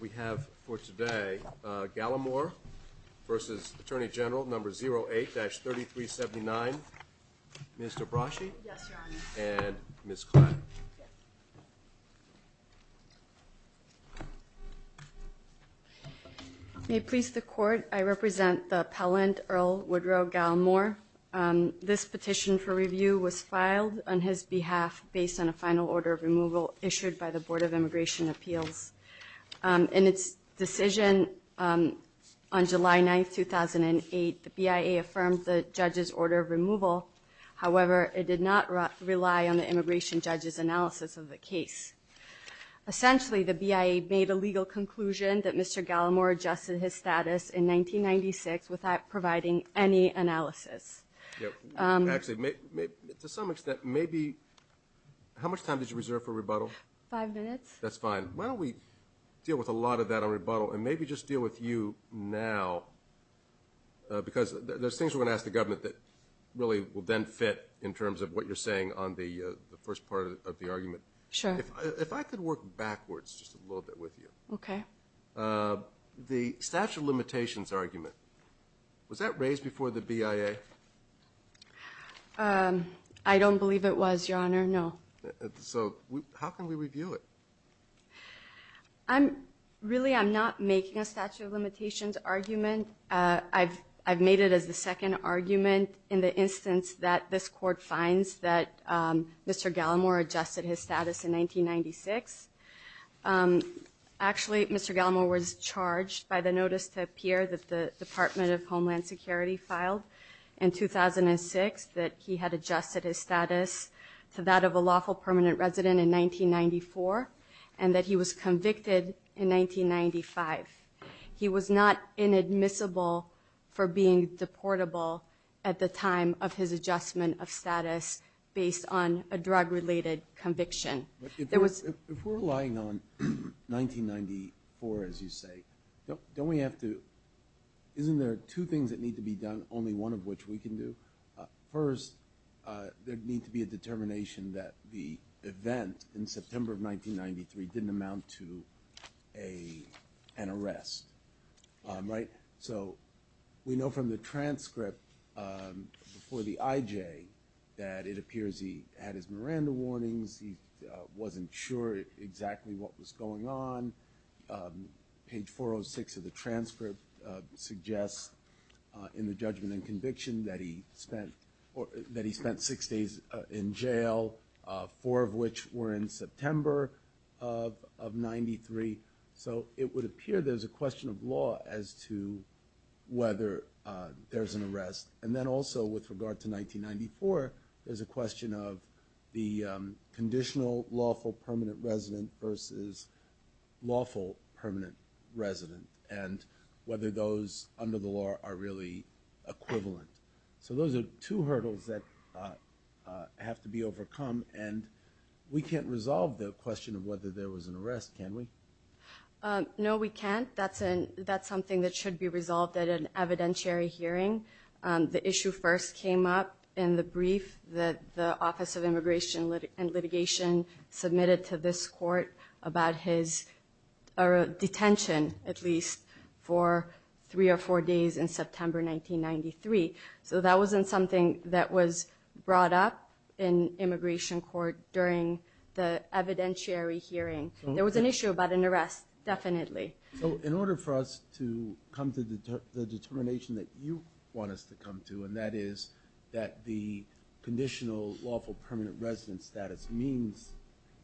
We have for today, Gallimore v. Attorney General No. 08-3379, Ms. Dabrashi and Ms. Klatt. May it please the Court, I represent the appellant, Earl Woodrow Gallimore. This petition for review was filed on his behalf based on a final order of removal issued by the Board of Immigration Appeals. In its decision on July 9, 2008, the BIA affirmed the judge's order of removal. However, it did not rely on the immigration judge's analysis of the case. Essentially, the BIA made a legal conclusion that Mr. Gallimore adjusted his status in 1996 without providing any analysis. Actually, to some extent, maybe, how much time did you reserve for rebuttal? Five minutes. That's fine. Why don't we deal with a lot of that on rebuttal and maybe just deal with you now, because there's things we're going to ask the government that really will then fit in terms of what you're saying on the first part of the argument. Sure. If I could work backwards just a little bit with you. Okay. The statute of limitations argument, was that raised before the BIA? I don't believe it was, Your Honor, no. So how can we review it? Really, I'm not making a statute of limitations argument. I've made it as the second argument in the instance that this court finds that Mr. Gallimore adjusted his status in 1996. Actually, Mr. Gallimore was charged by the notice to appear that the Department of Homeland Security filed in 2006, that he had adjusted his status to that of a lawful permanent resident in 1994 and that he was convicted in 1995. He was not inadmissible for being deportable at the time of his adjustment of status based on a drug-related conviction. If we're relying on 1994, as you say, don't we have to – isn't there two things that need to be done, only one of which we can do? First, there'd need to be a determination that the event in September of 1993 didn't amount to an arrest, right? So we know from the transcript before the IJ that it appears he had his Miranda warnings, he wasn't sure exactly what was going on. Page 406 of the transcript suggests in the judgment and conviction that he spent six days in jail, four of which were in September of 1993. So it would appear there's a question of law as to whether there's an arrest. And then also with regard to 1994, there's a question of the conditional lawful permanent resident versus lawful permanent resident and whether those under the law are really equivalent. So those are two hurdles that have to be overcome, and we can't resolve the question of whether there was an arrest, can we? No, we can't. That's something that should be resolved at an evidentiary hearing. The issue first came up in the brief that the Office of Immigration and Litigation submitted to this court about his detention, at least, for three or four days in September 1993. So that wasn't something that was brought up in immigration court during the evidentiary hearing. There was an issue about an arrest, definitely. So in order for us to come to the determination that you want us to come to, and that is that the conditional lawful permanent resident status means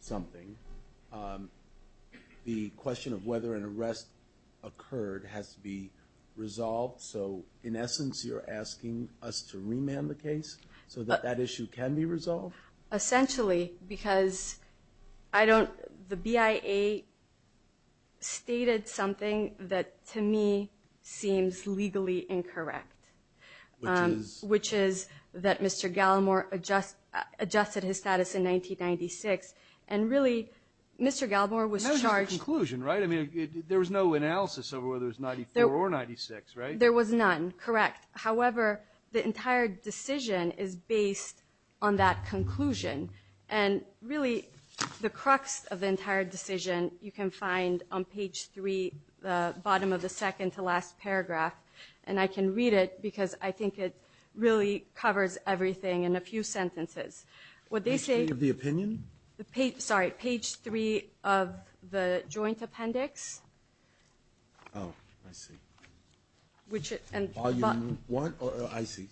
something, the question of whether an arrest occurred has to be resolved. So in essence, you're asking us to remand the case so that that issue can be resolved? Essentially, because I don't – the BIA stated something that, to me, seems legally incorrect. Which is? Which is that Mr. Gallimore adjusted his status in 1996, and really, Mr. Gallimore was charged – That was just the conclusion, right? I mean, there was no analysis over whether it was 94 or 96, right? There was none, correct. However, the entire decision is based on that conclusion. And really, the crux of the entire decision you can find on page 3, the bottom of the second to last paragraph. And I can read it because I think it really covers everything in a few sentences. Page 3 of the opinion? Sorry, page 3 of the joint appendix. Oh, I see. Volume 1? Oh, I see.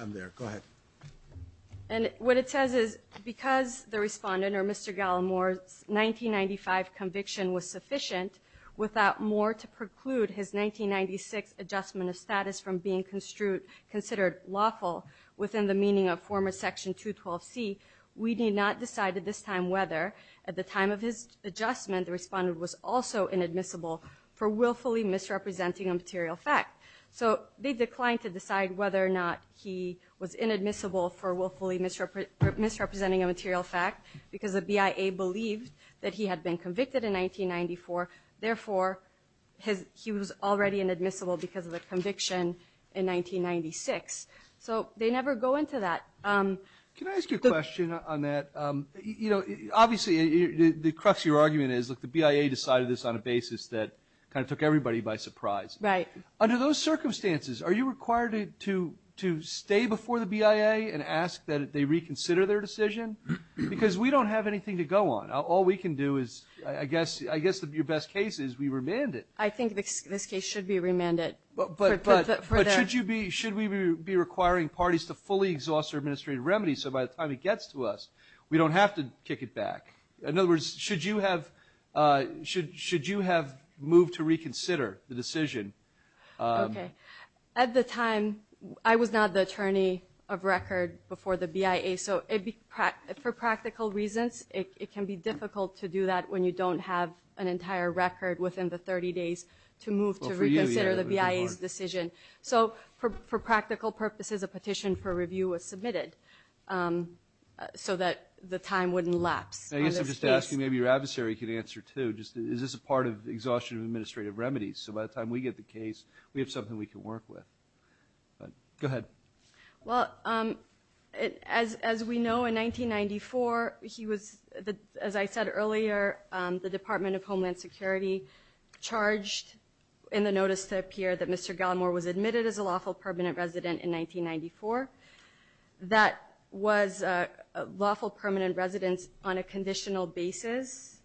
I'm there. Go ahead. And what it says is, because the Respondent or Mr. Gallimore's 1995 conviction was sufficient, without more to preclude his 1996 adjustment of status from being considered lawful within the meaning of former Section 212C, we need not decide at this time whether, at the time of his adjustment, the Respondent was also inadmissible for willfully misrepresenting a material fact. So they declined to decide whether or not he was inadmissible for willfully misrepresenting a material fact because the BIA believed that he had been convicted in 1994. Therefore, he was already inadmissible because of the conviction in 1996. So they never go into that. Can I ask you a question on that? Obviously, the crux of your argument is, look, the BIA decided this on a basis that kind of took everybody by surprise. Right. Under those circumstances, are you required to stay before the BIA and ask that they reconsider their decision? Because we don't have anything to go on. All we can do is, I guess your best case is we remand it. I think this case should be remanded. But should we be requiring parties to fully exhaust their administrative remedies so by the time it gets to us, we don't have to kick it back? In other words, should you have moved to reconsider the decision? Okay. At the time, I was not the attorney of record before the BIA. So for practical reasons, it can be difficult to do that when you don't have an entire record within the 30 days to move to reconsider the BIA's decision. So for practical purposes, a petition for review was submitted so that the time wouldn't lapse. I guess I'm just asking maybe your adversary can answer too. Is this a part of exhaustion of administrative remedies? So by the time we get the case, we have something we can work with. Go ahead. Well, as we know, in 1994, as I said earlier, the Department of Homeland Security charged in the notice to appear that Mr. Gallimore was admitted as a lawful permanent resident in 1994. That was lawful permanent residence on a conditional basis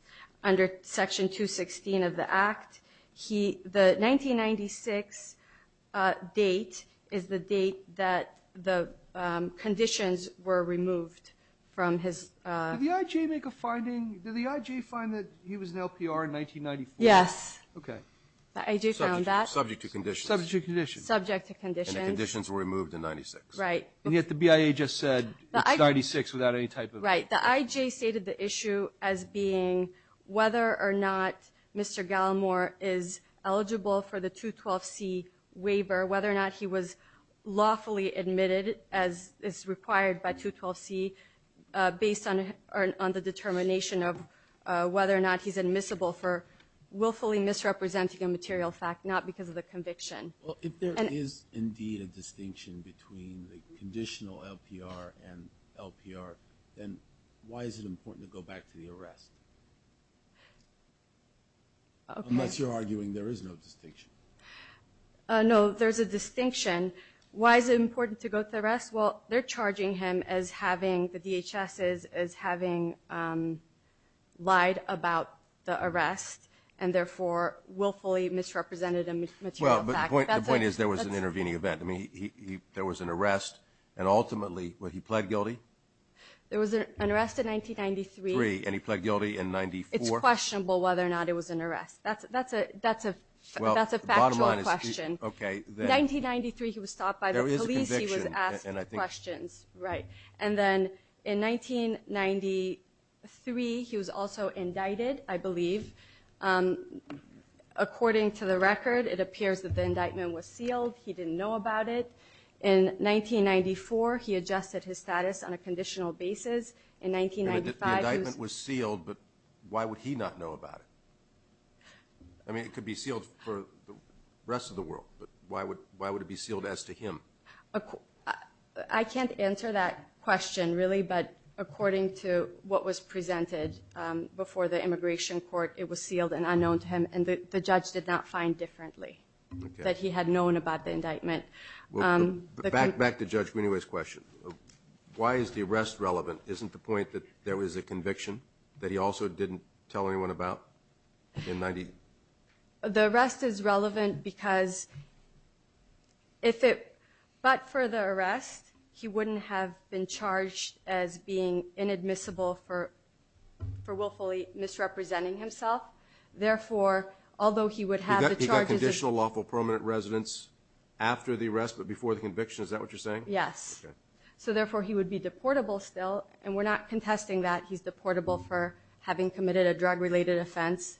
under Section 216 of the Act. The 1996 date is the date that the conditions were removed from his ---- Did the IG make a finding? Did the IG find that he was an LPR in 1994? Yes. Okay. The IG found that. Subject to conditions. Subject to conditions. Subject to conditions. And the conditions were removed in 1996. Right. And yet the BIA just said it's 1996 without any type of ---- Right. The IG stated the issue as being whether or not Mr. Gallimore is eligible for the 212C waiver, whether or not he was lawfully admitted as is required by 212C, based on the determination of whether or not he's admissible for willfully misrepresenting a material fact, not because of the conviction. Well, if there is indeed a distinction between the conditional LPR and LPR, then why is it important to go back to the arrest? Unless you're arguing there is no distinction. No, there's a distinction. Why is it important to go to the arrest? Well, they're charging him as having, the DHS is, as having lied about the arrest and therefore willfully misrepresented a material fact. Well, the point is there was an intervening event. I mean, there was an arrest, and ultimately, well, he pled guilty? There was an arrest in 1993. Three, and he pled guilty in 94? It's questionable whether or not it was an arrest. That's a factual question. Well, the bottom line is, okay, then ---- 1993, he was stopped by the police. He was asked questions, right. And then in 1993, he was also indicted, I believe. According to the record, it appears that the indictment was sealed. He didn't know about it. In 1994, he adjusted his status on a conditional basis. In 1995, he was ---- The indictment was sealed, but why would he not know about it? I mean, it could be sealed for the rest of the world, but why would it be sealed as to him? I can't answer that question, really, but according to what was presented before the immigration court, it was sealed and unknown to him, and the judge did not find differently that he had known about the indictment. Back to Judge Guineway's question. Why is the arrest relevant? Isn't the point that there was a conviction that he also didn't tell anyone about in ----? The arrest is relevant because if it ---- But for the arrest, he wouldn't have been charged as being inadmissible for willfully misrepresenting himself. Therefore, although he would have the charges of ---- He got conditional lawful permanent residence after the arrest but before the conviction. Is that what you're saying? Yes. Okay. So therefore, he would be deportable still, and we're not contesting that he's deportable for having committed a drug-related offense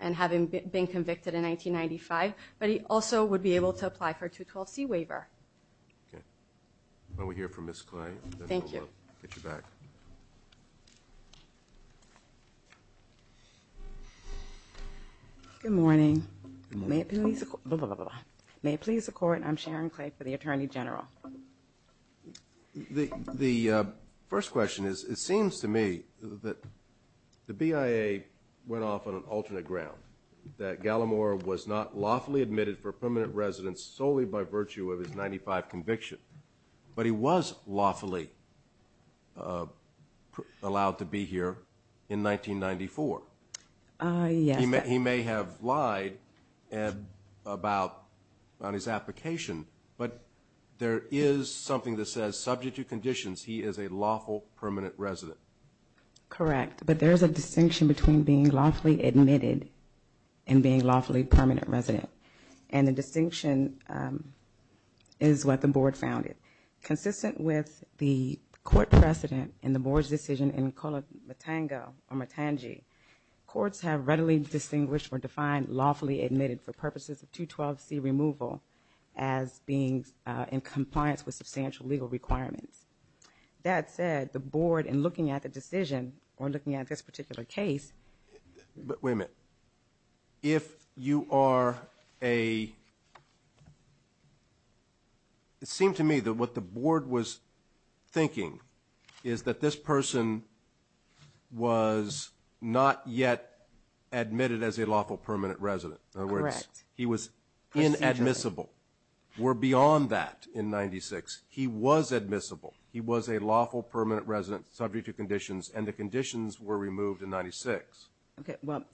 and having been convicted in 1995, but he also would be able to apply for a 212C waiver. Okay. When we hear from Ms. Clay, then we'll get you back. Thank you. Good morning. May it please the court. I'm Sharon Clay for the Attorney General. The first question is it seems to me that the BIA went off on an alternate ground, that Gallimore was not lawfully admitted for permanent residence solely by virtue of his 1995 conviction, but he was lawfully allowed to be here in 1994. Yes. He may have lied about his application, but there is something that says subject to conditions he is a lawful permanent resident. Correct, but there's a distinction between being lawfully admitted and being lawfully permanent resident, and the distinction is what the board found. Consistent with the court precedent in the board's decision in Colo Matango or Matangi, courts have readily distinguished or defined lawfully admitted for purposes of 212C removal as being in compliance with substantial legal requirements. That said, the board, in looking at the decision or looking at this particular case. Wait a minute. If you are a... It seemed to me that what the board was thinking is that this person was not yet admitted as a lawful permanent resident. Correct. He was inadmissible. We're beyond that in 96. He was admissible. He was a lawful permanent resident subject to conditions, and the conditions were removed in 96. Okay. Well,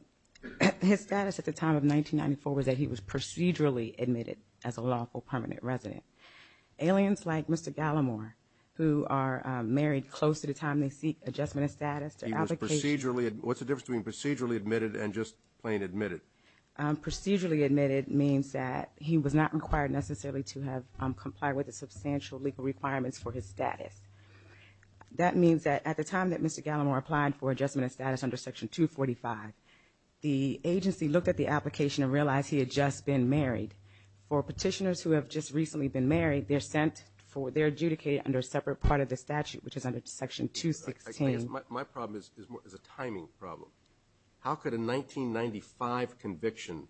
his status at the time of 1994 was that he was procedurally admitted as a lawful permanent resident. Aliens like Mr. Gallimore, who are married close to the time they seek adjustment of status. He was procedurally admitted. What's the difference between procedurally admitted and just plain admitted? Procedurally admitted means that he was not required necessarily to have complied with the substantial legal requirements for his status. That means that at the time that Mr. Gallimore applied for adjustment of status under Section 245, the agency looked at the application and realized he had just been married. For petitioners who have just recently been married, they're adjudicated under a separate part of the statute, which is under Section 216. My problem is a timing problem. How could a 1995 conviction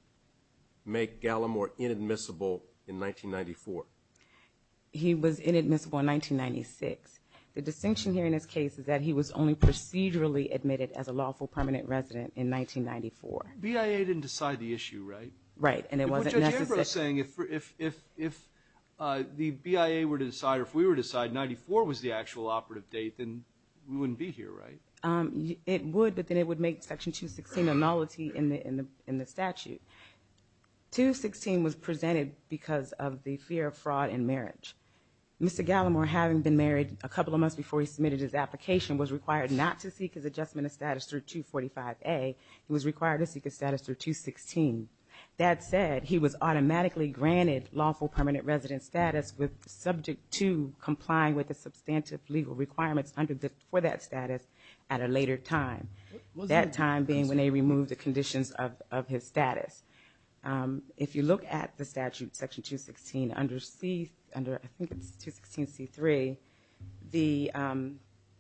make Gallimore inadmissible in 1994? He was inadmissible in 1996. The distinction here in this case is that he was only procedurally admitted as a lawful permanent resident in 1994. BIA didn't decide the issue, right? Right. And it wasn't necessary. But Judge Ambrose is saying if the BIA were to decide or if we were to decide 94 was the actual operative date, then we wouldn't be here, right? It would, but then it would make Section 216 a nullity in the statute. 216 was presented because of the fear of fraud in marriage. Mr. Gallimore, having been married a couple of months before he submitted his application, was required not to seek his adjustment of status through 245A. He was required to seek his status through 216. That said, he was automatically granted lawful permanent resident status subject to complying with the substantive legal requirements for that status at a later time, that time being when they removed the conditions of his status. If you look at the statute, Section 216, under C, under, I think it's 216C3, the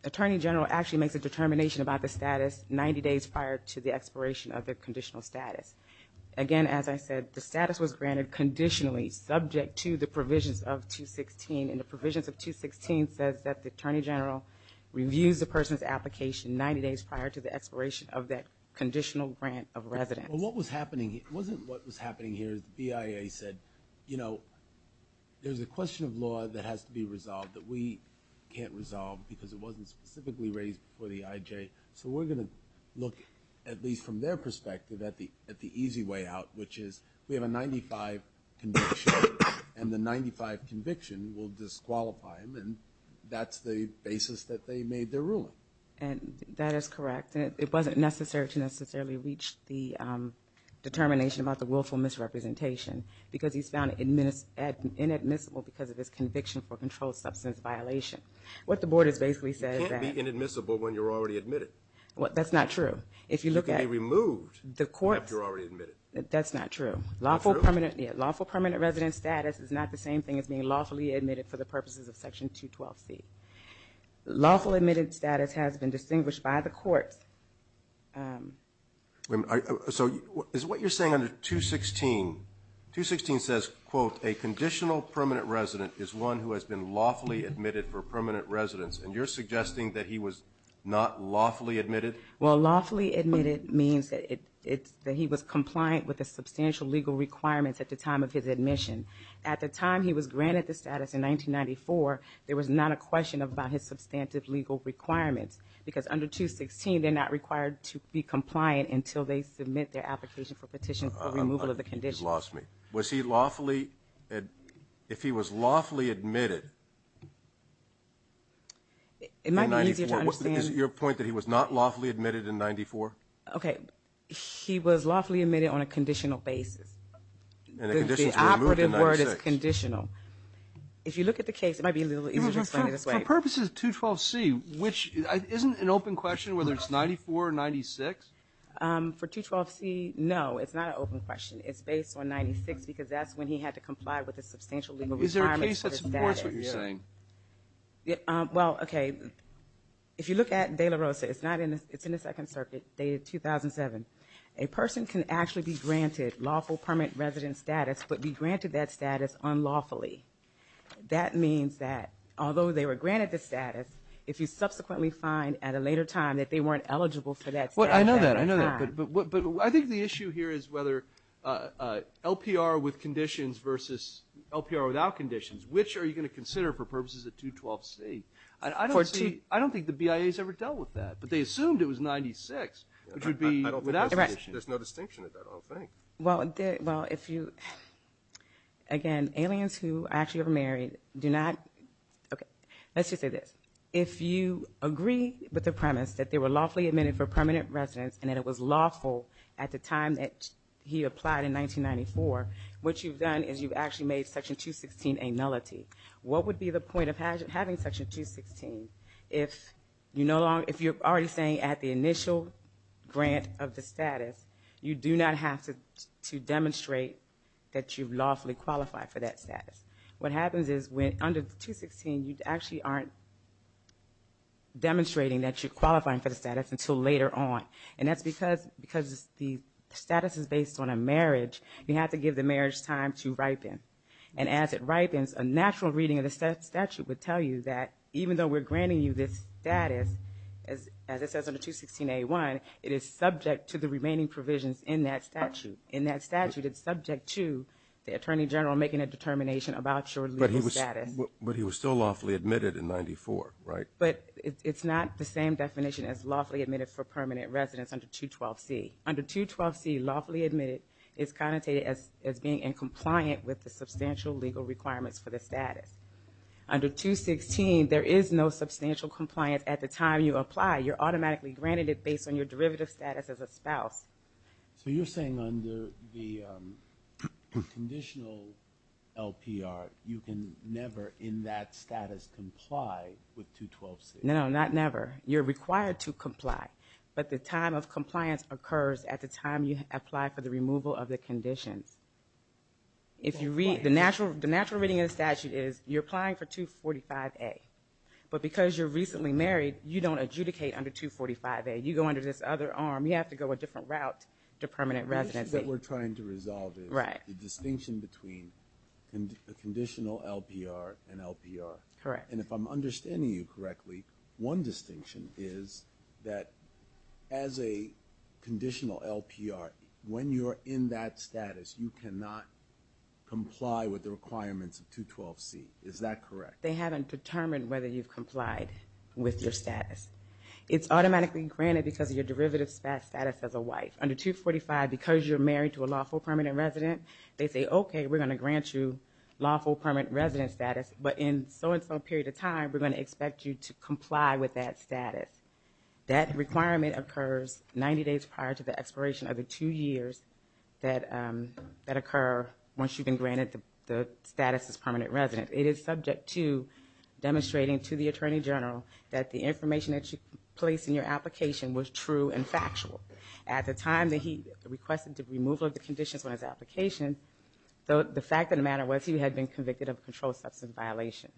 attorney general actually makes a determination about the status 90 days prior to the expiration of the conditional status. Again, as I said, the status was granted conditionally subject to the provisions of 216, and the provisions of 216 says that the attorney general reviews the person's application 90 days prior to the expiration of that conditional grant of residence. Well, what was happening, it wasn't what was happening here. The BIA said, you know, there's a question of law that has to be resolved that we can't resolve because it wasn't specifically raised before the IJ. So we're going to look, at least from their perspective, at the easy way out, which is we have a 95 conviction, and the 95 conviction will disqualify him, and that's the basis that they made their ruling. And that is correct. It wasn't necessary to necessarily reach the determination about the willful misrepresentation because he's found inadmissible because of his conviction for a controlled substance violation. What the board has basically said is that. You can't be inadmissible when you're already admitted. Well, that's not true. If you look at. You can be removed if you're already admitted. That's not true. Lawful permanent. Yeah, lawful permanent resident status is not the same thing as being lawfully admitted for the purposes of Section 212C. Lawful admitted status has been distinguished by the courts. So is what you're saying under 216, 216 says, quote, a conditional permanent resident is one who has been lawfully admitted for permanent residence, and you're suggesting that he was not lawfully admitted? Well, lawfully admitted means that he was compliant with the substantial legal requirements at the time of his admission. At the time he was granted the status in 1994, there was not a question about his substantive legal requirements because under 216 they're not required to be compliant until they submit their application for petition for removal of the condition. You've lost me. Was he lawfully. If he was lawfully admitted. It might be easier to understand. Is it your point that he was not lawfully admitted in 94? Okay. He was lawfully admitted on a conditional basis. The operative word is conditional. If you look at the case, it might be a little easier to explain it this way. For purposes of 212C, isn't it an open question whether it's 94 or 96? For 212C, no, it's not an open question. It's based on 96 because that's when he had to comply with the substantial legal requirements. Is there a case that supports what you're saying? Well, okay. If you look at De La Rosa, it's in the Second Circuit, dated 2007. A person can actually be granted lawful permanent resident status but be granted that status unlawfully. That means that although they were granted the status, if you subsequently find at a later time that they weren't eligible for that status at that time. I know that. But I think the issue here is whether LPR with conditions versus LPR without conditions. Which are you going to consider for purposes of 212C? I don't think the BIA has ever dealt with that. But they assumed it was 96, which would be without conditions. There's no distinction in that whole thing. Well, if you – again, aliens who actually are married do not – okay. Let's just say this. If you agree with the premise that they were lawfully admitted for permanent residence and that it was lawful at the time that he applied in 1994, what you've done is you've actually made Section 216 a nullity. What would be the point of having Section 216 if you're already saying at the initial grant of the status, you do not have to demonstrate that you've lawfully qualified for that status? What happens is under 216, you actually aren't demonstrating that you're qualifying for the status until later on. And that's because the status is based on a marriage. You have to give the marriage time to ripen. And as it ripens, a natural reading of the statute would tell you that even though we're granting you this status, as it says under 216A1, it is subject to the remaining provisions in that statute. In that statute, it's subject to the attorney general making a determination about your legal status. But he was still lawfully admitted in 94, right? But it's not the same definition as lawfully admitted for permanent residence under 212C. Under 212C, lawfully admitted is connotated as being in compliant with the substantial legal requirements for the status. Under 216, there is no substantial compliance at the time you apply. You're automatically granted it based on your derivative status as a spouse. So you're saying under the conditional LPR, you can never in that status comply with 212C? No, not never. You're required to comply. But the time of compliance occurs at the time you apply for the removal of the conditions. The natural reading of the statute is you're applying for 245A. But because you're recently married, you don't adjudicate under 245A. You go under this other arm. You have to go a different route to permanent residency. The issue that we're trying to resolve is the distinction between a conditional LPR and LPR. Correct. And if I'm understanding you correctly, one distinction is that as a conditional LPR, when you're in that status, you cannot comply with the requirements of 212C. Is that correct? They haven't determined whether you've complied with your status. It's automatically granted because of your derivative status as a wife. Under 245, because you're married to a lawful permanent resident, they say, okay, we're going to grant you lawful permanent resident status. But in so and so period of time, we're going to expect you to comply with that status. That requirement occurs 90 days prior to the expiration of the two years that occur once you've been granted the status as permanent resident. It is subject to demonstrating to the Attorney General that the information that you placed in your application was true and factual. At the time that he requested the removal of the conditions on his application, the fact of the matter was he had been convicted of a controlled substance violation.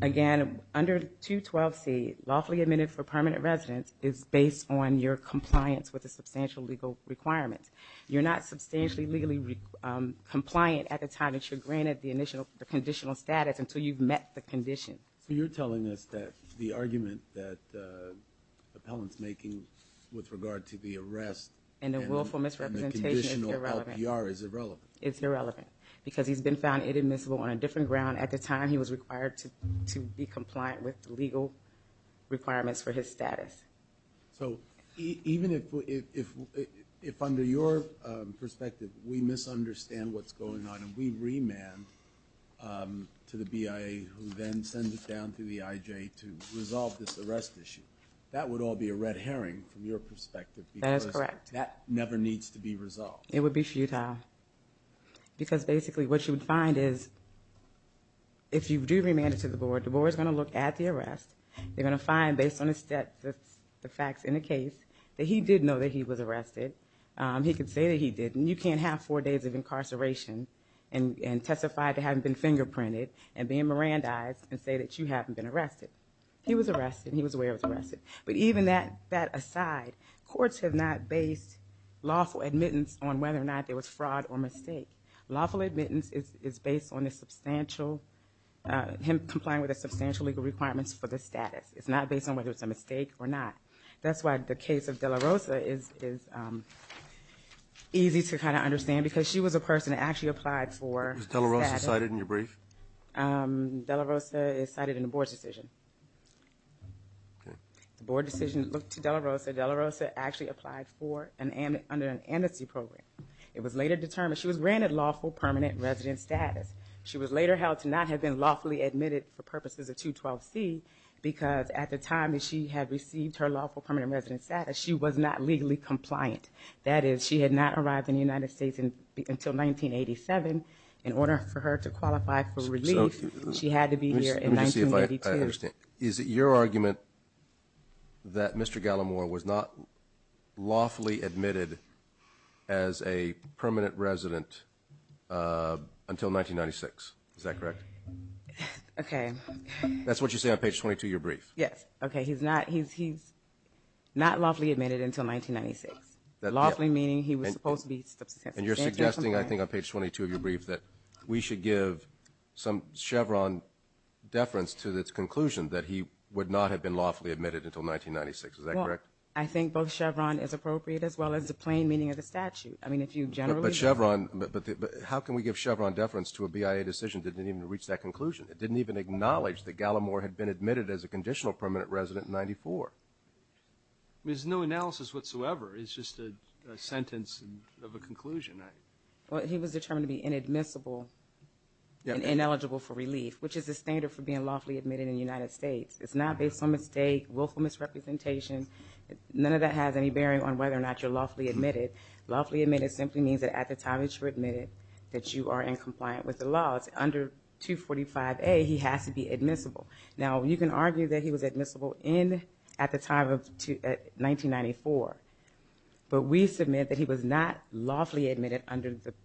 Again, under 212C, lawfully admitted for permanent residence is based on your compliance with a substantial legal requirement. You're not substantially legally compliant at the time that you're granted the conditional status until you've met the condition. So you're telling us that the argument that the appellant's making with regard to the arrest and the willful misrepresentation is irrelevant. It's irrelevant because he's been found inadmissible on a different ground at the time he was required to be compliant with legal requirements for his status. So even if under your perspective we misunderstand what's going on and we remand to the BIA, who then sends it down to the IJ to resolve this arrest issue, that would all be a red herring from your perspective. That is correct. Because that never needs to be resolved. It would be futile. Because basically what you would find is if you do remand it to the board, the board's going to look at the arrest. They're going to find, based on the facts in the case, that he did know that he was arrested. He could say that he didn't. You can't have four days of incarceration and testify to having been fingerprinted and being Mirandized and say that you haven't been arrested. He was arrested. He was aware he was arrested. But even that aside, courts have not based lawful admittance on whether or not there was fraud or mistake. Lawful admittance is based on the substantial, him complying with the substantial legal requirements for the status. It's not based on whether it's a mistake or not. That's why the case of De La Rosa is easy to kind of understand because she was a person that actually applied for status. Was De La Rosa cited in your brief? De La Rosa is cited in the board's decision. The board decision looked to De La Rosa. De La Rosa actually applied for, under an amnesty program. It was later determined she was granted lawful permanent resident status. She was later held to not have been lawfully admitted for purposes of 212C because at the time that she had received her lawful permanent resident status, she was not legally compliant. That is, she had not arrived in the United States until 1987. In order for her to qualify for relief, she had to be here in 1982. Is it your argument that Mr. Gallimore was not lawfully admitted as a permanent resident until 1996? Is that correct? Okay. That's what you say on page 22 of your brief. Yes. Okay. He's not lawfully admitted until 1996. Lawfully meaning he was supposed to be. And you're suggesting, I think, on page 22 of your brief, that we should give some Chevron deference to this conclusion that he would not have been lawfully admitted until 1996. Is that correct? Well, I think both Chevron is appropriate as well as the plain meaning of the statute. I mean, if you generally look at it. But Chevron, how can we give Chevron deference to a BIA decision that didn't even reach that conclusion? It didn't even acknowledge that Gallimore had been admitted as a conditional permanent resident in 94. There's no analysis whatsoever. It's just a sentence of a conclusion. Well, he was determined to be inadmissible and ineligible for relief, which is the standard for being lawfully admitted in the United States. It's not based on mistake, willful misrepresentation. None of that has any bearing on whether or not you're lawfully admitted. Lawfully admitted simply means that at the time that you're admitted that you are in compliance with the laws. Under 245A, he has to be admissible. Now, you can argue that he was admissible at the time of 1994, but we submit that he was not lawfully admitted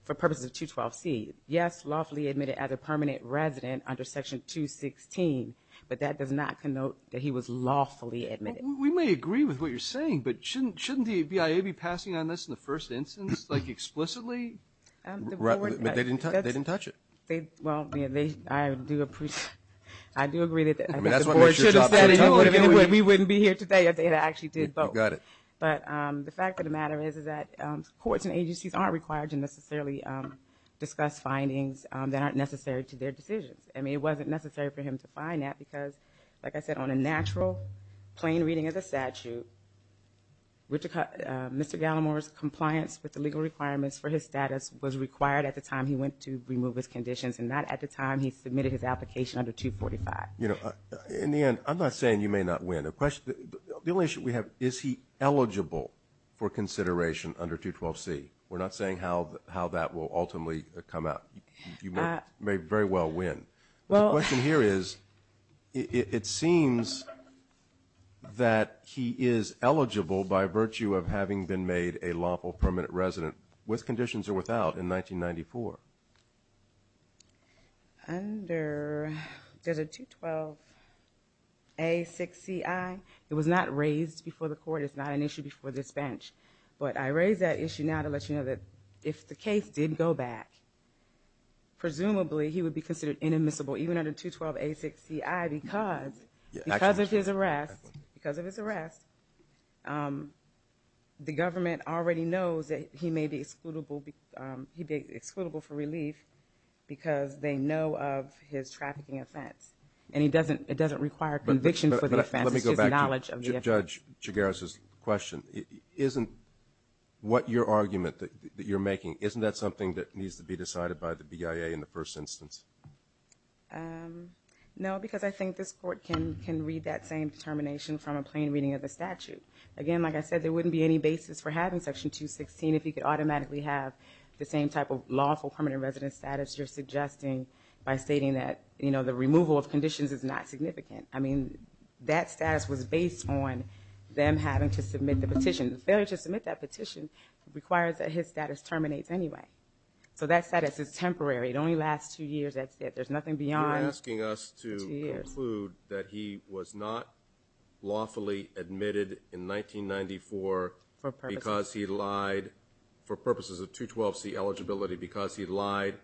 for purposes of 212C. Yes, lawfully admitted as a permanent resident under Section 216, but that does not connote that he was lawfully admitted. We may agree with what you're saying, but shouldn't the BIA be passing on this in the first instance, like explicitly? Right, but they didn't touch it. Well, I do agree that the board should have said it. We wouldn't be here today if they had actually did both. Got it. But the fact of the matter is that courts and agencies aren't required to necessarily discuss findings that aren't necessary to their decisions. I mean, it wasn't necessary for him to find that because, like I said, on a natural, plain reading of the statute, Mr. Gallimore's compliance with the legal requirements for his status was required at the time he went to remove his conditions and not at the time he submitted his application under 245. You know, in the end, I'm not saying you may not win. The only issue we have, is he eligible for consideration under 212C? We're not saying how that will ultimately come out. You may very well win. The question here is, it seems that he is eligible by virtue of having been made a lawful permanent resident, with conditions or without, in 1994. Under, there's a 212A6CI. It was not raised before the court. It's not an issue before this bench. But I raise that issue now to let you know that if the case did go back, presumably he would be considered inadmissible, even under 212A6CI, because of his arrest, the government already knows that he may be excludable for relief because they know of his trafficking offense. And it doesn't require conviction for the offense. My judge, Chigares' question, isn't what your argument that you're making, isn't that something that needs to be decided by the BIA in the first instance? No, because I think this court can read that same determination from a plain reading of the statute. Again, like I said, there wouldn't be any basis for having Section 216 if he could automatically have the same type of lawful permanent resident status you're suggesting by stating that, you know, the removal of conditions is not significant. I mean, that status was based on them having to submit the petition. Failure to submit that petition requires that his status terminates anyway. So that status is temporary. It only lasts two years. That's it. There's nothing beyond two years. You're asking us to conclude that he was not lawfully admitted in 1994 because he lied for purposes of 212C eligibility because he lied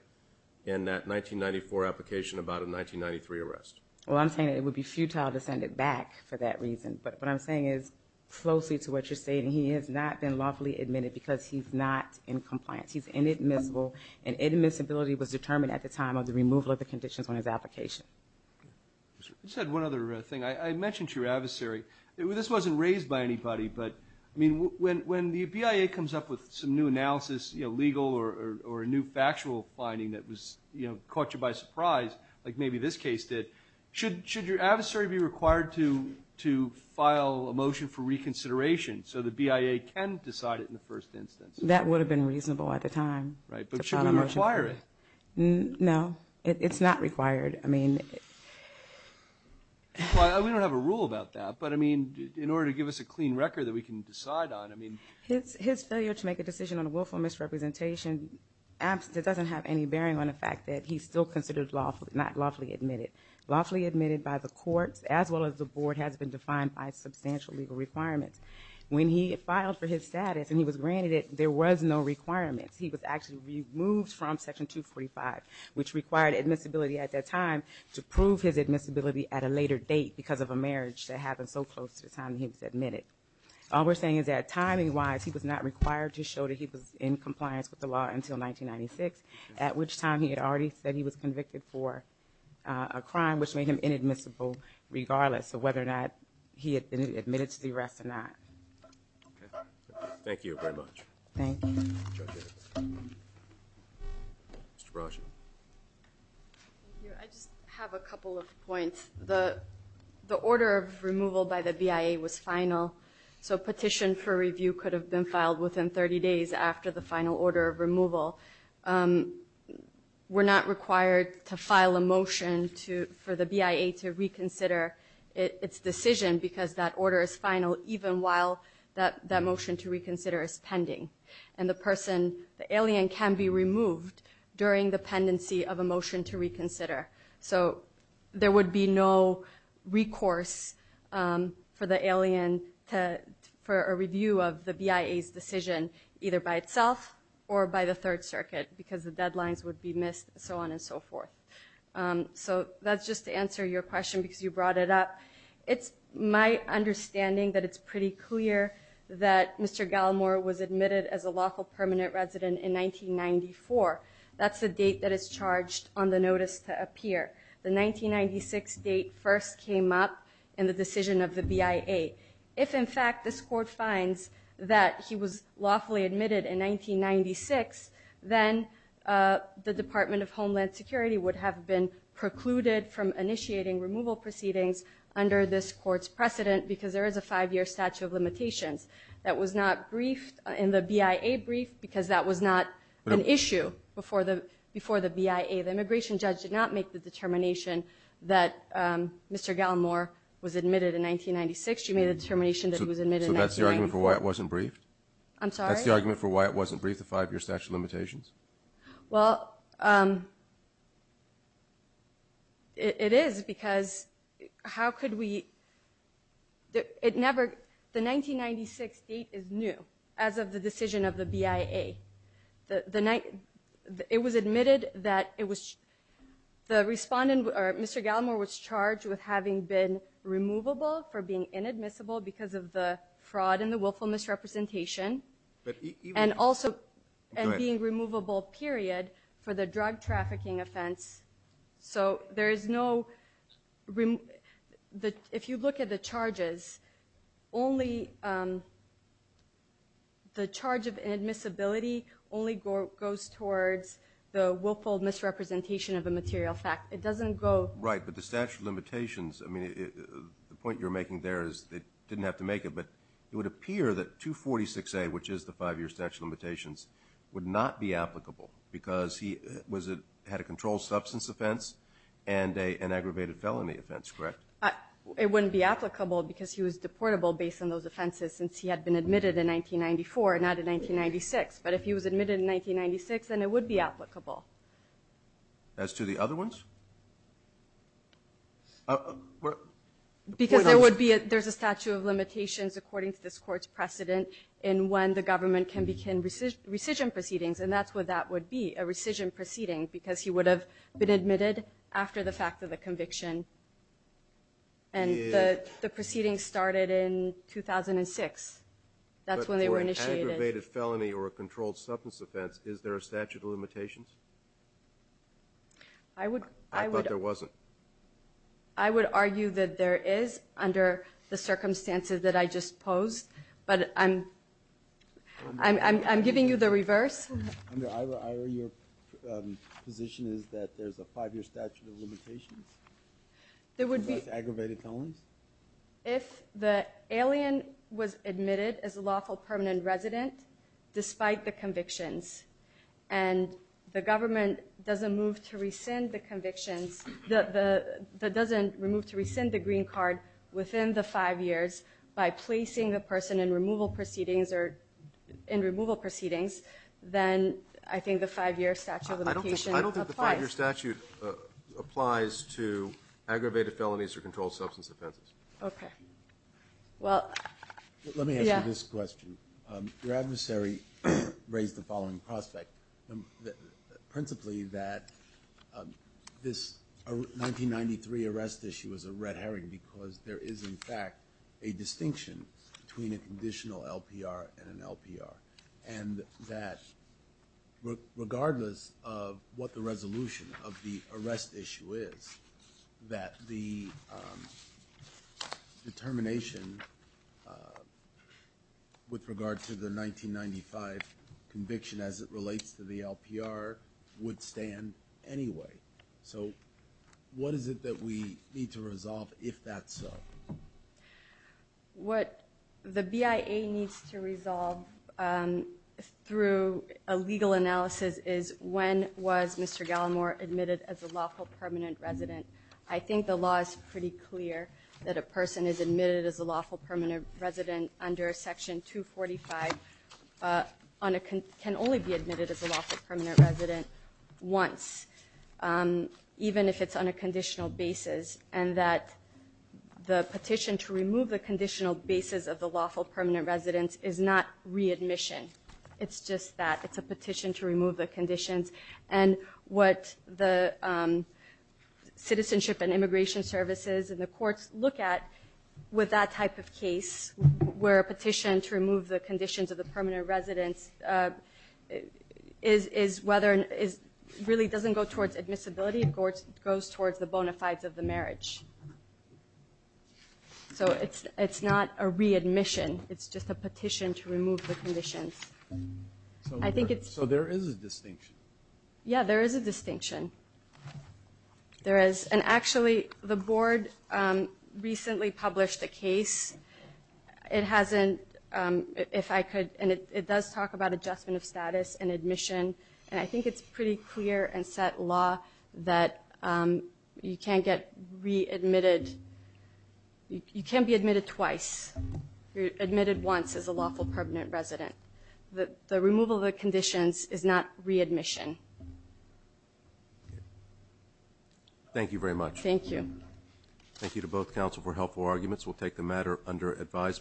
in that 1994 application about a 1993 arrest. Well, I'm saying it would be futile to send it back for that reason. But what I'm saying is, closely to what you're saying, he has not been lawfully admitted because he's not in compliance. He's inadmissible, and inadmissibility was determined at the time of the removal of the conditions on his application. I just had one other thing. I mentioned to your adversary, this wasn't raised by anybody, but, I mean, when the BIA comes up with some new analysis, you know, legal or a new factual finding that was, you know, caught you by surprise, like maybe this case did, should your adversary be required to file a motion for reconsideration so the BIA can decide it in the first instance? That would have been reasonable at the time. Right, but should we require it? No, it's not required. I mean. We don't have a rule about that, but, I mean, in order to give us a clean record that we can decide on, I mean. His failure to make a decision on a willful misrepresentation absolutely doesn't have any bearing on the fact that he's still considered lawfully, not lawfully admitted. Lawfully admitted by the courts, as well as the board, has been defined by substantial legal requirements. When he filed for his status, and he was granted it, there was no requirements. He was actually removed from Section 245, which required admissibility at that time to prove his admissibility at a later date because of a marriage that happened so close to the time he was admitted. All we're saying is that, timing-wise, he was not required to show that he was in compliance with the law until 1996, at which time he had already said he was convicted for a crime, which made him inadmissible regardless of whether or not he had been admitted to the arrest or not. Okay. Thank you very much. Thank you. Judge Hicks. Mr. Brashen. Thank you. I just have a couple of points. The order of removal by the BIA was final, so petition for review could have been filed within 30 days after the final order of removal. We're not required to file a motion for the BIA to reconsider its decision because that order is final, even while that motion to reconsider is pending. And the person, the alien, can be removed during the pendency of a motion to reconsider. So there would be no recourse for the alien for a review of the BIA's decision either by itself or by the Third Circuit because the deadlines would be missed, so on and so forth. So that's just to answer your question because you brought it up. It's my understanding that it's pretty clear that Mr. Gallimore was admitted as a lawful permanent resident in 1994. That's the date that is charged on the notice to appear. The 1996 date first came up in the decision of the BIA. If, in fact, this court finds that he was lawfully admitted in 1996, then the Department of Homeland Security would have been precluded from initiating removal proceedings under this court's precedent because there is a five-year statute of limitations. That was not briefed in the BIA brief because that was not an issue before the BIA. The immigration judge did not make the determination that Mr. Gallimore was admitted in 1996. You made a determination that he was admitted in 1994. So that's the argument for why it wasn't briefed? I'm sorry? That's the argument for why it wasn't briefed, the five-year statute of limitations? Well, it is because how could we – it never – the 1996 date is new as of the decision of the BIA. The – it was admitted that it was – the respondent, Mr. Gallimore, was charged with having been removable for being inadmissible because of the fraud and the willful misrepresentation. But even – And also – and being removable, period, for the drug trafficking offense. So there is no – if you look at the charges, only – the charge of inadmissibility only goes towards the willful misrepresentation of the material fact. It doesn't go – Right, but the statute of limitations, I mean, the point you're making there is they didn't have to make it, but it would appear that 246A, which is the five-year statute of limitations, would not be applicable because he was a – had a controlled substance offense and an aggravated felony offense, correct? It wouldn't be applicable because he was deportable based on those offenses since he had been admitted in 1994, not in 1996. But if he was admitted in 1996, then it would be applicable. As to the other ones? Because there would be a – there's a statute of limitations according to this Court's precedent in when the government can begin rescission proceedings, and that's what that would be, a rescission proceeding, because he would have been admitted after the fact of the conviction. And the proceedings started in 2006. That's when they were initiated. But for an aggravated felony or a controlled substance offense, is there a statute of limitations? I would – I would – I thought there wasn't. I would argue that there is under the circumstances that I just posed, but I'm – I'm giving you the reverse. Under IRA, your position is that there's a five-year statute of limitations? There would be – Against aggravated felonies? If the alien was admitted as a lawful permanent resident despite the convictions and the government doesn't move to rescind the convictions – that doesn't move to rescind the green card within the five years by placing the person in removal proceedings or – in removal proceedings, then I think the five-year statute of limitations applies. I don't think the five-year statute applies to aggravated felonies or controlled substance offenses. Okay. Well, yeah. Let me ask you this question. Your adversary raised the following prospect, principally that this 1993 arrest issue is a red herring because there is, in fact, a distinction between a conditional LPR and an LPR and that regardless of what the resolution of the arrest issue is, that the determination with regard to the 1995 conviction as it relates to the LPR would stand anyway. So what is it that we need to resolve if that's so? What the BIA needs to resolve through a legal analysis is when was Mr. Gallimore admitted as a lawful permanent resident. I think the law is pretty clear that a person is admitted as a lawful permanent resident under Section 245 on a – can only be admitted as a lawful permanent resident once, even if it's on a conditional basis, and that the petition to remove the conditional basis of the lawful permanent resident is not readmission. It's just that. It's a petition to remove the conditions. And what the Citizenship and Immigration Services and the courts look at with that type of case where a petition to remove the conditions of the permanent residence is whether – really doesn't go towards admissibility. It goes towards the bona fides of the marriage. So it's not a readmission. It's just a petition to remove the conditions. I think it's – So there is a distinction. Yeah, there is a distinction. There is – and actually, the board recently published a case. It hasn't – if I could – and it does talk about adjustment of status and admission, and I think it's pretty clear and set law that you can't get readmitted – you can't be admitted twice. You're admitted once as a lawful permanent resident. The removal of the conditions is not readmission. Thank you very much. Thank you. Thank you to both counsel for helpful arguments. We'll take the matter under advisement.